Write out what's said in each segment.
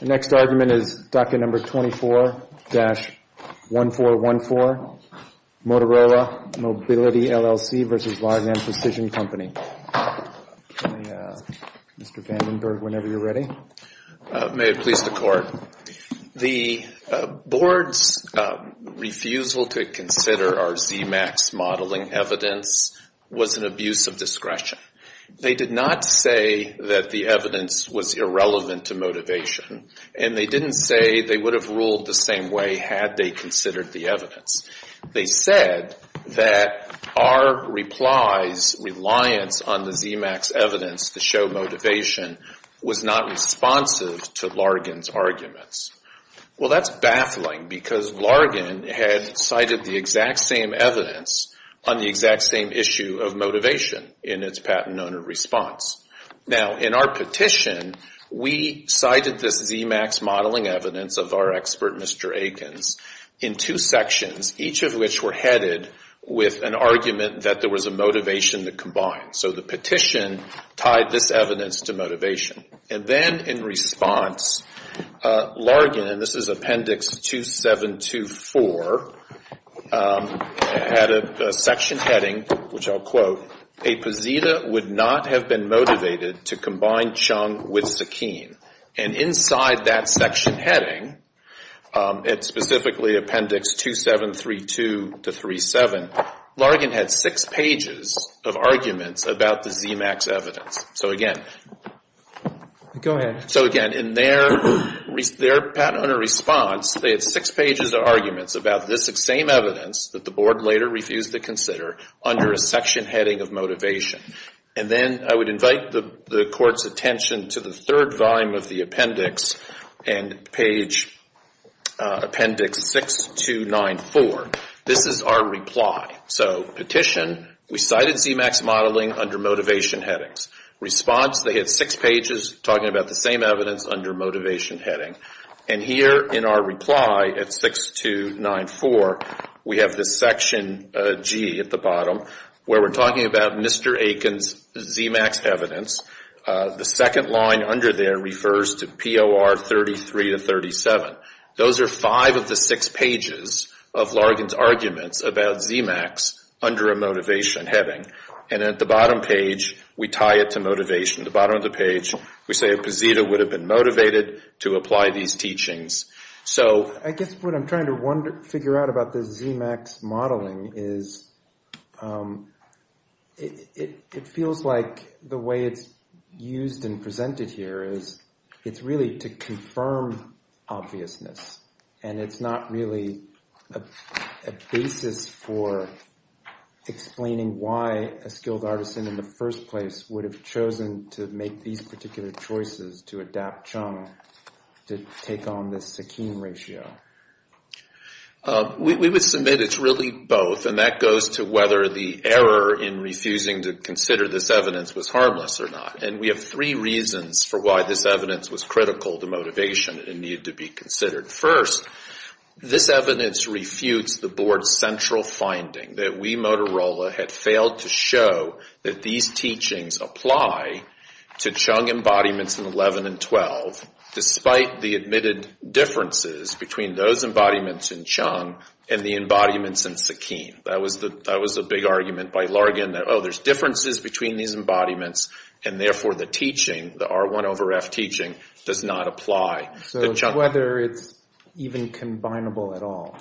The next argument is docket number 24-1414, Motorola Mobility LLC v. Largan Precision Co. Okay, Mr. Vandenberg, whenever you're ready. May it please the court. The board's refusal to consider our ZMAX modeling evidence was an abuse of discretion. They did not say that the evidence was irrelevant to motivation, and they didn't say they would have ruled the same way had they considered the evidence. They said that our reply's reliance on the ZMAX evidence to show motivation was not responsive to Largan's arguments. Well, that's baffling, because Largan had cited the exact same evidence on the exact same issue of motivation in its patent owner response. Now in our petition, we cited this ZMAX modeling evidence of our expert, Mr. Aikens, in two sections, each of which were headed with an argument that there was a motivation to combine. So the petition tied this evidence to motivation, and then in response, Largan, and this is which I'll quote, a posita would not have been motivated to combine Chung with Sakeen. And inside that section heading, it's specifically Appendix 2732 to 37, Largan had six pages of arguments about the ZMAX evidence. So again, in their patent owner response, they had six pages of arguments about this exact same evidence that the board later refused to consider under a section heading of motivation. And then I would invite the court's attention to the third volume of the appendix, and page Appendix 6294. This is our reply. So petition, we cited ZMAX modeling under motivation headings. Response, they had six pages talking about the same evidence under motivation heading. And here in our reply at 6294, we have this section G at the bottom where we're talking about Mr. Aikens' ZMAX evidence. The second line under there refers to POR 33 to 37. Those are five of the six pages of Largan's arguments about ZMAX under a motivation heading. And at the bottom page, we tie it to motivation. At the bottom of the page, we say a posita would have been motivated to apply these teachings. So I guess what I'm trying to figure out about this ZMAX modeling is it feels like the way it's used and presented here is it's really to confirm obviousness. And it's not really a basis for explaining why a skilled artisan in the first place would have chosen to make these particular choices to adapt Chung to take on this Sakeen ratio. We would submit it's really both, and that goes to whether the error in refusing to consider this evidence was harmless or not. And we have three reasons for why this evidence was critical to motivation and needed to be First, this evidence refutes the board's central finding that we, Motorola, had failed to show that these teachings apply to Chung embodiments in 11 and 12, despite the admitted differences between those embodiments in Chung and the embodiments in Sakeen. That was the big argument by Largan that, oh, there's differences between these embodiments, and therefore the teaching, the R1 over F teaching, does not apply to Chung. So whether it's even combinable at all.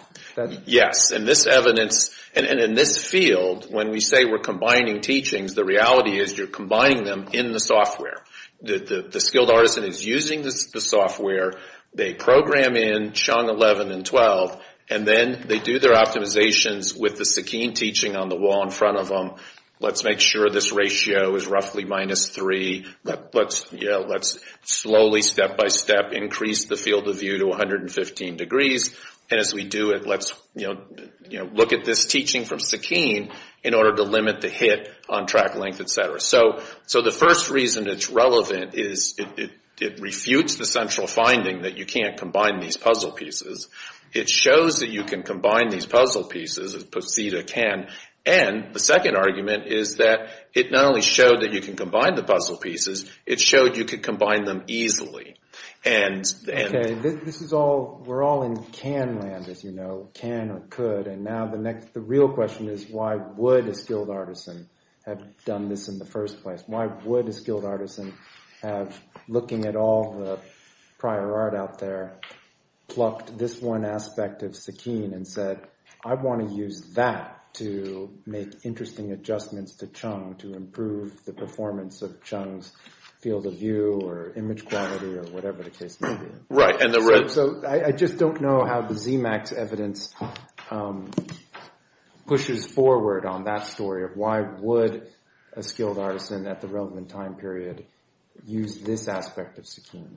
Yes. And this evidence, and in this field, when we say we're combining teachings, the reality is you're combining them in the software. The skilled artisan is using the software, they program in Chung 11 and 12, and then they do their optimizations with the Sakeen teaching on the wall in front of them. Let's make sure this ratio is roughly minus three. Let's slowly, step by step, increase the field of view to 115 degrees. And as we do it, let's look at this teaching from Sakeen in order to limit the hit on track length, et cetera. So the first reason it's relevant is it refutes the central finding that you can't combine these puzzle pieces. It shows that you can combine these puzzle pieces, as Posida can, and the second argument is that it not only showed that you can combine the puzzle pieces, it showed you could combine them easily. Okay, this is all, we're all in can land, as you know, can or could, and now the real question is why would a skilled artisan have done this in the first place? Why would a skilled artisan have, looking at all the prior art out there, plucked this one aspect of Sakeen and said, I want to use that to make interesting adjustments to Chung to improve the performance of Chung's field of view or image quality or whatever the case may be. Right. So I just don't know how the ZMAX evidence pushes forward on that story of why would a skilled artisan at the relevant time period use this aspect of Sakeen.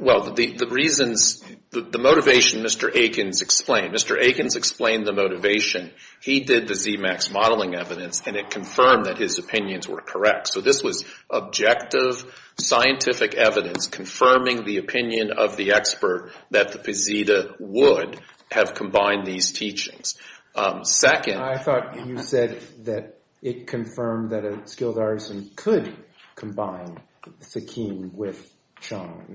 Well, the reasons, the motivation Mr. Aikens explained, Mr. Aikens explained the motivation. He did the ZMAX modeling evidence and it confirmed that his opinions were correct. So this was objective scientific evidence confirming the opinion of the expert that the Posida would have combined these teachings. I thought you said that it confirmed that a skilled artisan could combine Sakeen with Chung,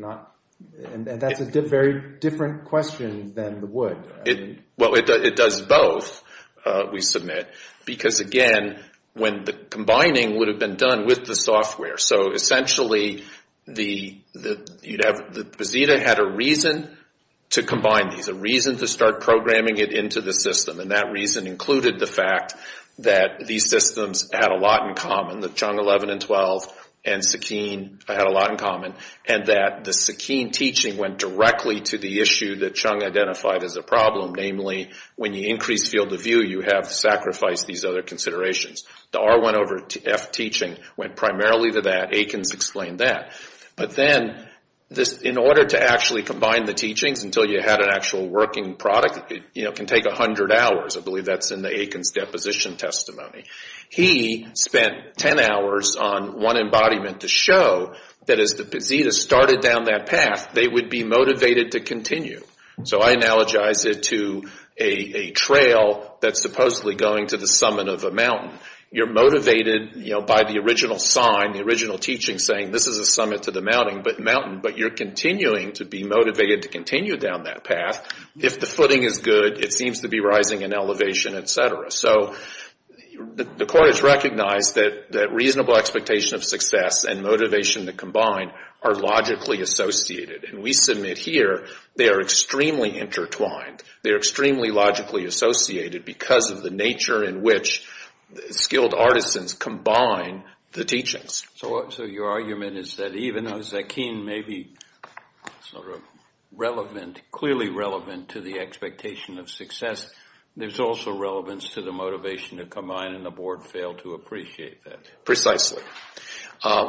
and that's a very different question than the would. Well, it does both, we submit, because again, when the combining would have been done with the software. So essentially, the Posida had a reason to combine these, a reason to start programming it into the system, and that reason included the fact that these systems had a lot in common, that Chung 11 and 12 and Sakeen had a lot in common, and that the Sakeen teaching went directly to the issue that Chung identified as a problem, namely, when you increase field of view, you have to sacrifice these other considerations. The R1 over F teaching went primarily to that, Aikens explained that, but then in order to actually combine the teachings until you had an actual working product, it can take 100 hours. I believe that's in the Aikens deposition testimony. He spent 10 hours on one embodiment to show that as the Posida started down that path, they would be motivated to continue. So I analogize it to a trail that's supposedly going to the summit of a mountain. You're motivated by the original sign, the original teaching saying this is a summit to the mountain, but you're continuing to be motivated to continue down that path. If the footing is good, it seems to be rising in elevation, et cetera. So the court has recognized that reasonable expectation of success and motivation to combine are logically associated. We submit here, they are extremely intertwined. They're extremely logically associated because of the nature in which skilled artisans combine the teachings. So your argument is that even though Sakeen may be sort of relevant, clearly relevant to the expectation of success, there's also relevance to the motivation to combine and the board failed to appreciate that. Precisely.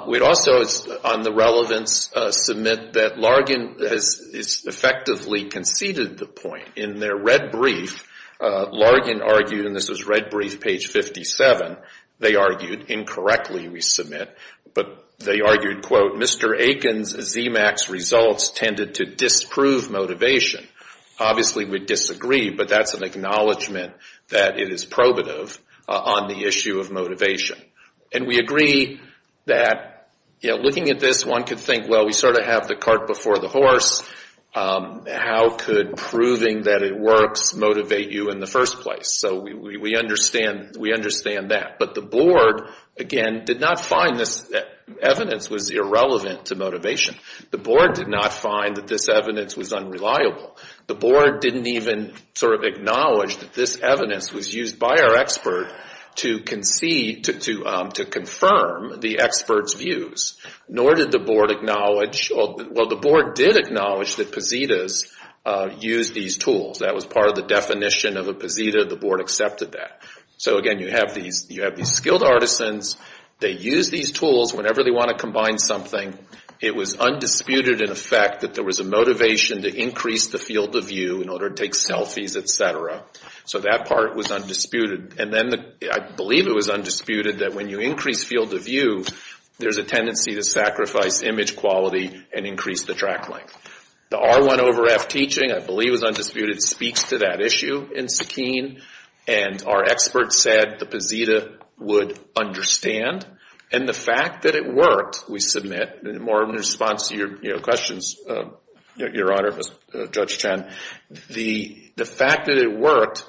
We'd also, on the relevance, submit that Largan has effectively conceded the point. In their red brief, Largan argued, and this was red brief page 57, they argued incorrectly, we submit, but they argued, quote, Mr. Aiken's ZMAX results tended to disprove motivation. Obviously we disagree, but that's an acknowledgment that it is probative on the issue of motivation. And we agree that looking at this, one could think, well, we sort of have the cart before the horse, how could proving that it works motivate you in the first place? So we understand that. But the board, again, did not find this evidence was irrelevant to motivation. The board did not find that this evidence was unreliable. The board didn't even sort of acknowledge that this evidence was used by our expert to confirm the expert's views, nor did the board acknowledge, well, the board did acknowledge that Positas used these tools. That was part of the definition of a Posita. The board accepted that. So again, you have these skilled artisans. They use these tools whenever they want to combine something. It was undisputed, in effect, that there was a motivation to increase the field of view in order to take selfies, et cetera. So that part was undisputed. And then I believe it was undisputed that when you increase field of view, there's a tendency to sacrifice image quality and increase the track length. The R1 over F teaching, I believe, was undisputed, speaks to that issue in Sakine. And our expert said the Posita would understand. And the fact that it worked, we submit, more in response to your questions, Your Honor, Judge Chen, the fact that it worked,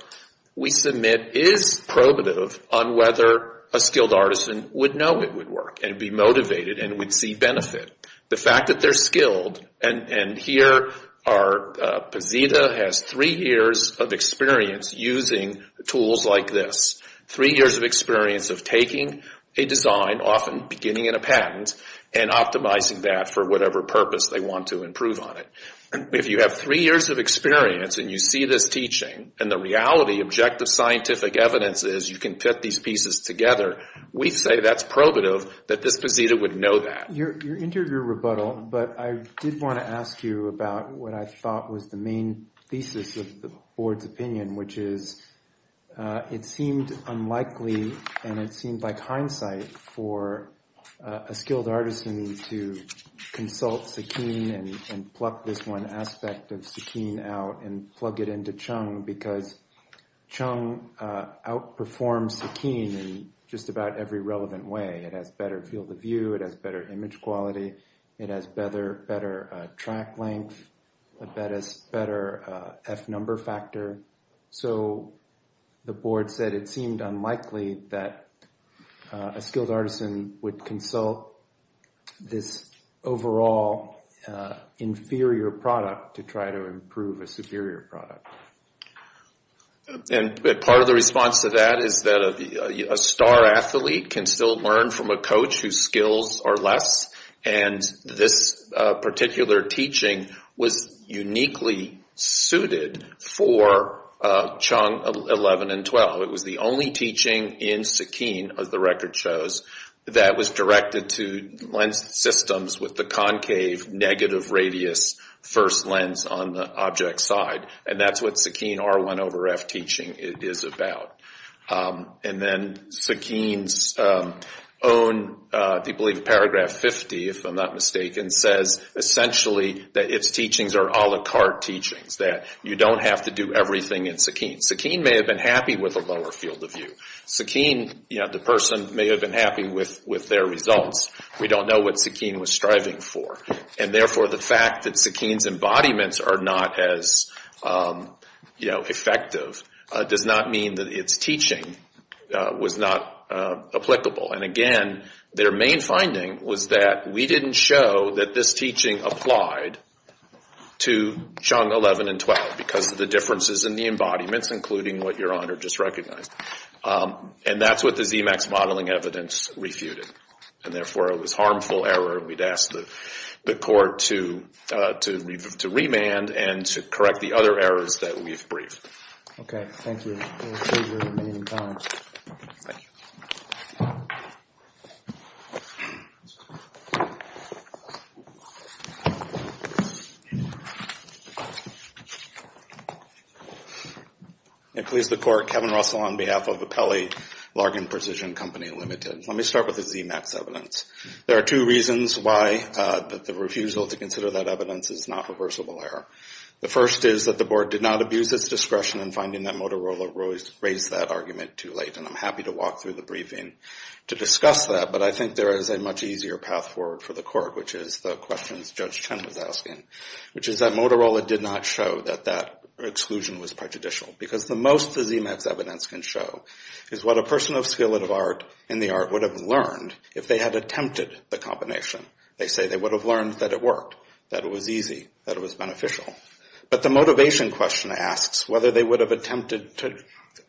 we submit, is probative on whether a skilled artisan would know it would work and be motivated and would see benefit. The fact that they're skilled, and here our Posita has three years of experience using tools like this, three years of experience of taking a design, often beginning in a patent, and optimizing that for whatever purpose they want to improve on it. If you have three years of experience and you see this teaching, and the reality, objective scientific evidence is you can fit these pieces together, we say that's probative that this Posita would know that. Your interview rebuttal, but I did want to ask you about what I thought was the main thesis of the board's opinion, which is, it seemed unlikely, and it seemed like hindsight for a skilled artisan to consult Sakine and pluck this one aspect of Sakine out and plug it into Chung, because Chung outperforms Sakine in just about every relevant way. It has better field of view, it has better image quality, it has better track length, it has better F number factor. So the board said it seemed unlikely that a skilled artisan would consult this overall inferior product to try to improve a superior product. And part of the response to that is that a star athlete can still learn from a coach whose skills are less, and this particular teaching was uniquely suited for Chung 11 and 12. It was the only teaching in Sakine, as the record shows, that was directed to lens systems with the concave negative radius first lens on the object side. And that's what Sakine R1 over F teaching is about. And then Sakine's own, I believe, paragraph 50, if I'm not mistaken, says essentially that its teachings are a la carte teachings, that you don't have to do everything in Sakine. Sakine may have been happy with a lower field of view. Sakine, the person, may have been happy with their results. We don't know what Sakine was striving for. And therefore the fact that Sakine's embodiments are not as effective does not mean that it's teaching was not applicable. And again, their main finding was that we didn't show that this teaching applied to Chung 11 and 12 because of the differences in the embodiments, including what Your Honor just recognized. And that's what the ZMAX modeling evidence refuted. And therefore it was a harmful error, and we'd ask the court to remand and to correct the other errors that we've briefed. Okay. Thank you. We'll save your remaining time. Thank you. It please the court, Kevin Russell on behalf of Apelli Largan Precision Company Limited. Let me start with the ZMAX evidence. There are two reasons why the refusal to consider that evidence is not reversible error. The first is that the board did not abuse its discretion in finding that Motorola raised that argument too late, and I'm happy to walk through the briefing to discuss that. But I think there is a much easier path forward for the court, which is the questions Judge Chen was asking, which is that Motorola did not show that that exclusion was prejudicial. Because the most the ZMAX evidence can show is what a person of skill and of art in the art would have learned if they had attempted the combination. They say they would have learned that it worked, that it was easy, that it was beneficial. But the motivation question asks whether they would have attempted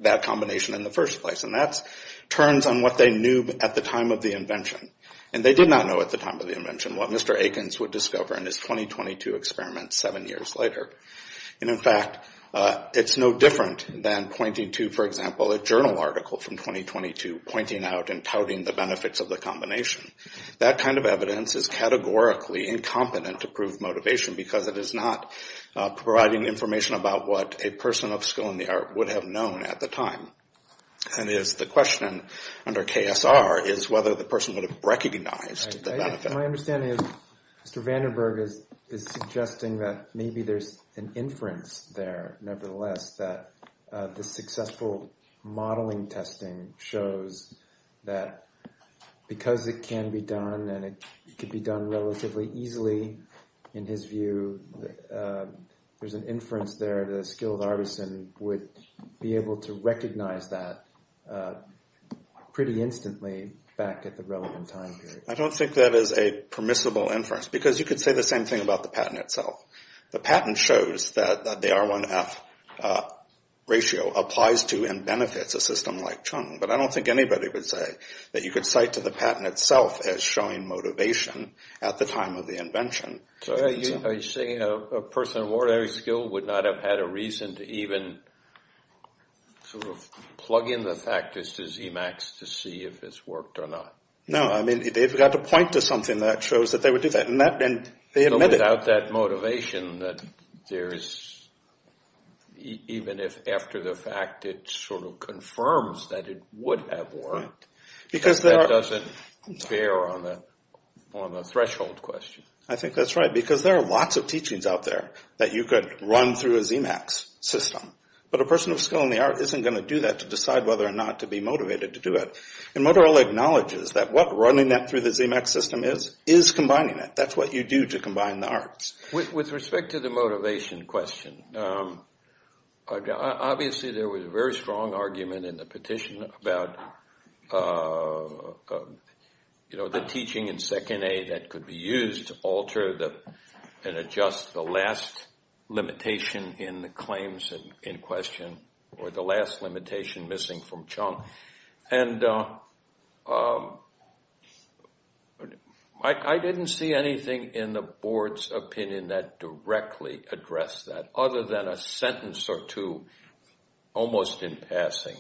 that combination in the first place, and that turns on what they knew at the time of the invention. And they did not know at the time of the invention what Mr. Akins would discover in his 2022 experiment seven years later. And in fact, it's no different than pointing to, for example, a journal article from 2022, pointing out and touting the benefits of the combination. That kind of evidence is categorically incompetent to prove motivation because it is not providing information about what a person of skill in the art would have known at the time. And the question under KSR is whether the person would have recognized the benefit. My understanding is Mr. Vandenberg is suggesting that maybe there's an inference there, nevertheless, that the successful modeling testing shows that because it can be done and it can be done relatively easily, in his view, there's an inference there that a skilled artisan would be able to recognize that pretty instantly back at the relevant time period. I don't think that is a permissible inference because you could say the same thing about the patent itself. The patent shows that the R1F ratio applies to and benefits a system like Chung. But I don't think anybody would say that you could cite to the patent itself as showing motivation at the time of the invention. So are you saying a person of ordinary skill would not have had a reason to even sort of plug in the factors to Zemax to see if this worked or not? No, I mean, they've got to point to something that shows that they would do that. So without that motivation, even if after the fact it sort of confirms that it would have worked, that doesn't bear on the threshold question. I think that's right because there are lots of teachings out there that you could run through a Zemax system. But a person of skill in the art isn't going to do that to decide whether or not to be motivated to do it. And Motorola acknowledges that what running that through the Zemax system is, is combining it. That's what you do to combine the arts. With respect to the motivation question, obviously there was a very strong argument in the petition about, you know, the teaching in second A that could be used to alter and adjust the last limitation in the claims in question or the last limitation missing from Chung. And I didn't see anything in the board's opinion that directly addressed that other than a sentence or two almost in passing.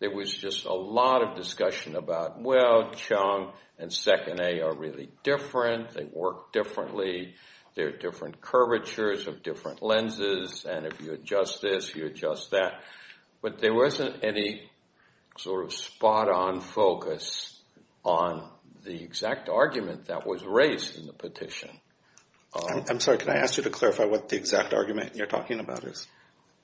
There was just a lot of discussion about, well, Chung and second A are really different. They work differently. There are different curvatures of different lenses. And if you adjust this, you adjust that. But there wasn't any sort of spot on focus on the exact argument that was raised in the petition. I'm sorry. Can I ask you to clarify what the exact argument you're talking about is?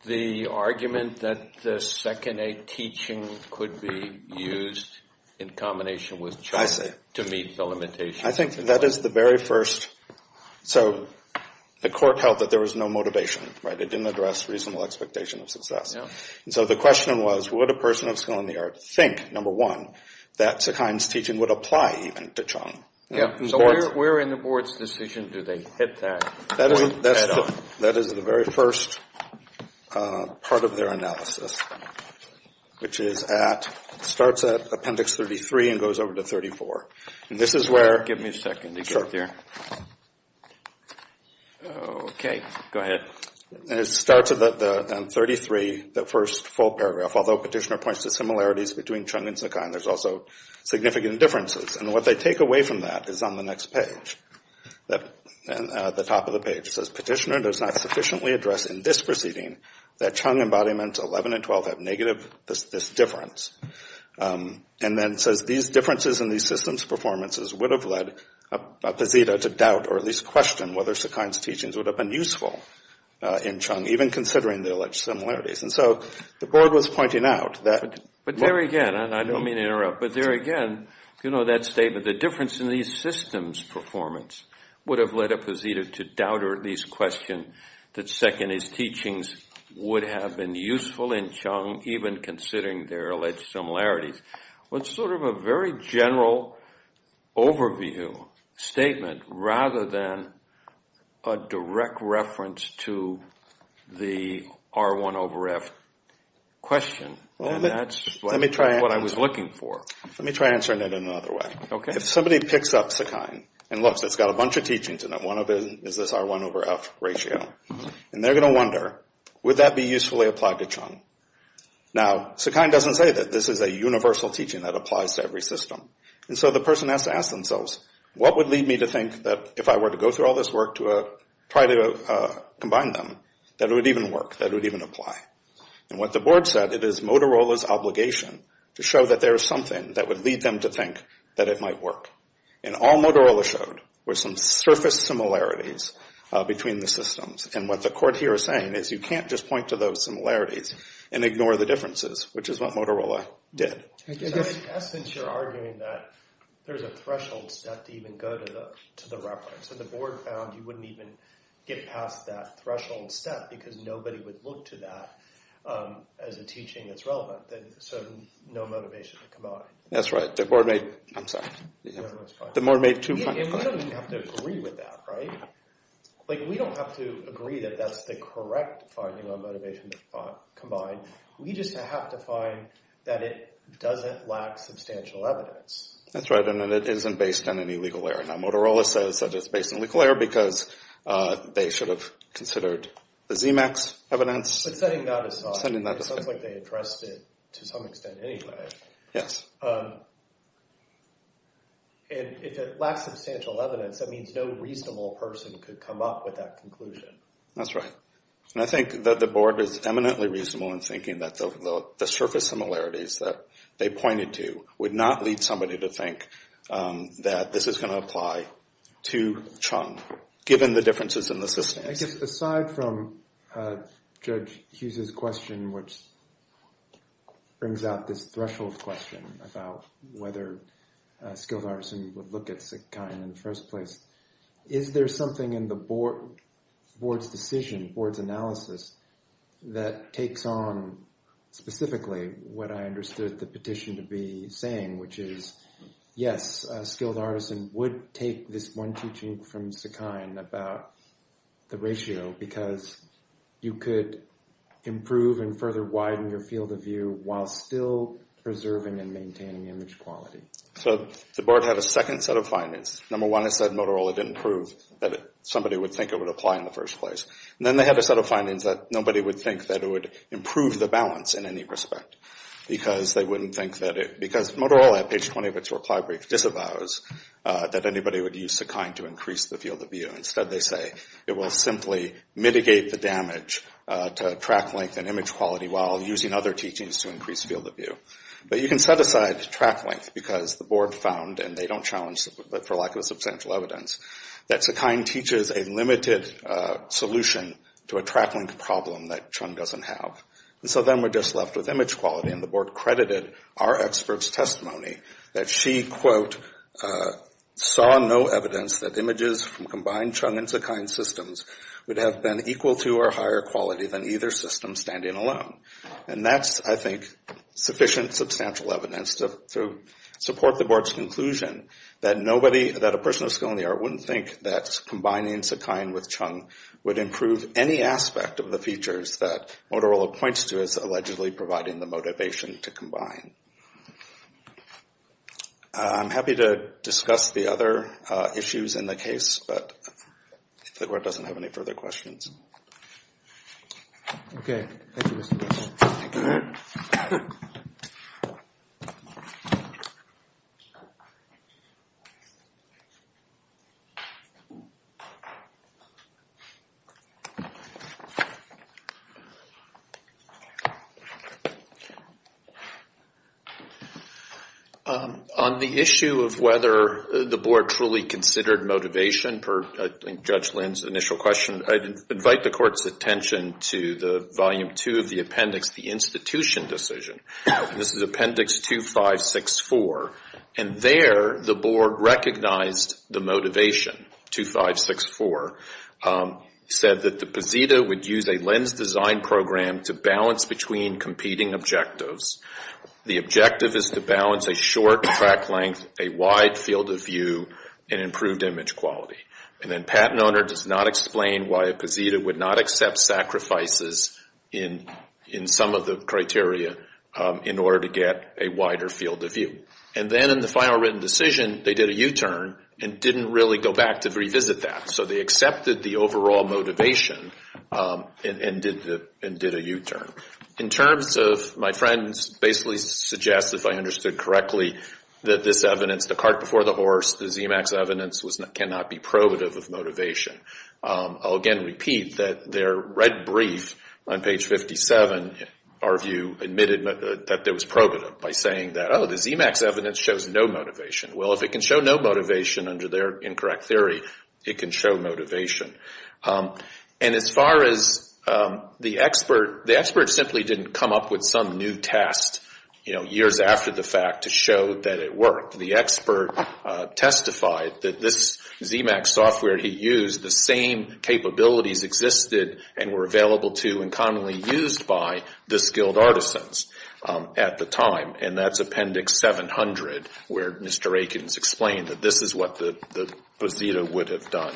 The argument that the second A teaching could be used in combination with Chung to meet the limitation. I think that is the very first. So the court held that there was no motivation, right? It didn't address reasonable expectation of success. And so the question was, would a person of skill in the art think, number one, that Sukhine's teaching would apply even to Chung? So where in the board's decision do they hit that point at all? That is the very first part of their analysis, which is at, starts at appendix 33 and goes over to 34. Give me a second to get there. Okay. Go ahead. And it starts on 33, the first full paragraph. Although Petitioner points to similarities between Chung and Sukhine, there's also significant differences. And what they take away from that is on the next page, the top of the page. It says, Petitioner does not sufficiently address in this proceeding that Chung embodiment 11 and 12 have negative, this difference. And then it says, these differences in these systems' performances would have led Pazita to doubt or at least question whether Sukhine's teachings would have been useful in Chung, even considering the alleged similarities. And so the board was pointing out that. But there again, and I don't mean to interrupt, but there again, if you know that statement, the difference in these systems' performance would have led Pazita to doubt or at least question that Seconi's teachings would have been useful in Chung, even considering their alleged similarities. It's sort of a very general overview statement rather than a direct reference to the R1 over F question. And that's what I was looking for. Let me try answering that in another way. If somebody picks up Sukhine and looks, it's got a bunch of teachings in it. One of them is this R1 over F ratio. And they're going to wonder, would that be usefully applied to Chung? Now, Sukhine doesn't say that this is a universal teaching that applies to every system. And so the person has to ask themselves, what would lead me to think that if I were to go through all this work to try to combine them, that it would even work, that it would even apply? And what the board said, it is Motorola's obligation to show that there is something that would lead them to think that it might work. And all Motorola showed were some surface similarities between the systems. And what the court here is saying is you can't just point to those similarities and ignore the differences, which is what Motorola did. I guess since you're arguing that there's a threshold set to even go to the reference, and the board found you wouldn't even get past that threshold set because nobody would look to that as a teaching that's relevant, then there's sort of no motivation to combine. That's right. The board made... I'm sorry. The board made two... And we don't have to agree with that, right? We don't have to agree that that's the correct finding on motivation to combine. We just have to find that it doesn't lack substantial evidence. That's right, and that it isn't based on any legal error. Now, Motorola says that it's based on legal error because they should have considered the Zemax evidence. But setting that aside, it sounds like they addressed it to some extent anyway. Yes. And if it lacks substantial evidence, that means no reasonable person could come up with that conclusion. That's right. And I think that the board is eminently reasonable in thinking that the surface similarities that they pointed to would not lead somebody to think that this is going to apply to Chung, given the differences in the system. I guess aside from Judge Hughes's question, which brings out this threshold question about whether Skilled Artisan would look at Sakain in the first place, is there something in the board's decision, board's analysis, that takes on specifically what I understood the petition to be saying, which is, yes, Skilled Artisan would take this one teaching from Sakain about the ratio because you could improve and further widen your field of view while still preserving and maintaining image quality. So the board had a second set of findings. Number one, it said Motorola didn't prove that somebody would think it would apply in the first place. And then they had a set of findings that nobody would think that it would improve the balance in any respect because Motorola at page 20 of its reply brief disavows that anybody would use Sakain to increase the field of view. Instead they say it will simply mitigate the damage to track length and image quality while using other teachings to increase field of view. But you can set aside track length because the board found, and they don't challenge for lack of substantial evidence, that Sakain teaches a limited solution to a track length problem that Chung doesn't have. And so then we're just left with image quality. And the board credited our expert's testimony that she, quote, saw no evidence that images from combined Chung and Sakain systems would have been equal to or higher quality than either system standing alone. And that's, I think, sufficient substantial evidence to support the board's conclusion that a person of skill in the art wouldn't think that combining Sakain with Chung would improve any aspect of the features that Motorola points to as allegedly providing the motivation to combine. I'm happy to discuss the other issues in the case, but if the board doesn't have any further questions. On the issue of whether the board truly considered motivation per Judge Lin's initial question, I'd invite the court's attention to the volume two of the appendix, the institution decision. This is appendix 2-5-6-4. And there the board recognized the motivation. 2-5-6-4. Said that the posita would use a lens design program to balance between competing objectives. The objective is to balance a short track length, a wide field of view, and improved image quality. And then patent owner does not explain why a posita would not accept sacrifices in some of the criteria in order to get a wider field of view. And then in the final written decision, they did a U-turn and didn't really go back to revisit that. So they accepted the overall motivation and did a U-turn. In terms of my friends basically suggest, if I understood correctly, that this evidence, the cart before the horse, the ZMAX evidence, cannot be probative of motivation. I'll again repeat that their red brief on page 57, our view, admitted that it was probative by saying that, oh, the ZMAX evidence shows no motivation. Well, if it can show no motivation under their incorrect theory, it can show motivation. And as far as the expert, the expert simply didn't come up with some new test years after the fact to show that it worked. The expert testified that this ZMAX software he used, the same capabilities existed and were available to and commonly used by the skilled artisans at the time. And that's appendix 700 where Mr. Aikens explained that this is what the posita would have done.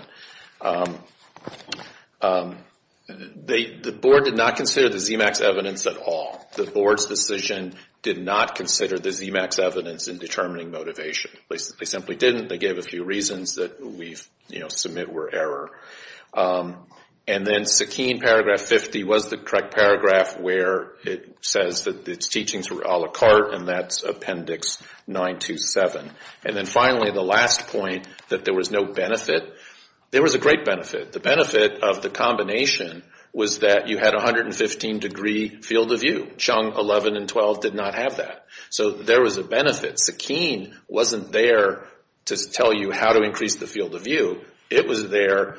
The board did not consider the ZMAX evidence at all. The board's decision did not consider the ZMAX evidence in determining motivation. They simply didn't. They gave a few reasons that we submit were error. And then Sakeen, paragraph 50, was the correct paragraph where it says that its teachings were a la carte and that's appendix 927. And then finally, the last point, that there was no benefit. There was a great benefit. The benefit of the combination was that you had 115 degree field of view. Chung 11 and 12 did not have that. So there was a benefit. Sakeen wasn't there to tell you how to increase the field of view. It was there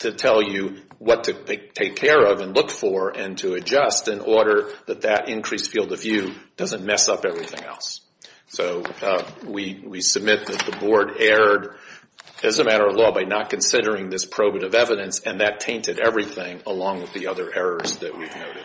to tell you what to take care of and to adjust in order that that increased field of view doesn't mess up everything else. So we submit that the board erred as a matter of law by not considering this probative evidence and that tainted everything along with the other errors that we've noted.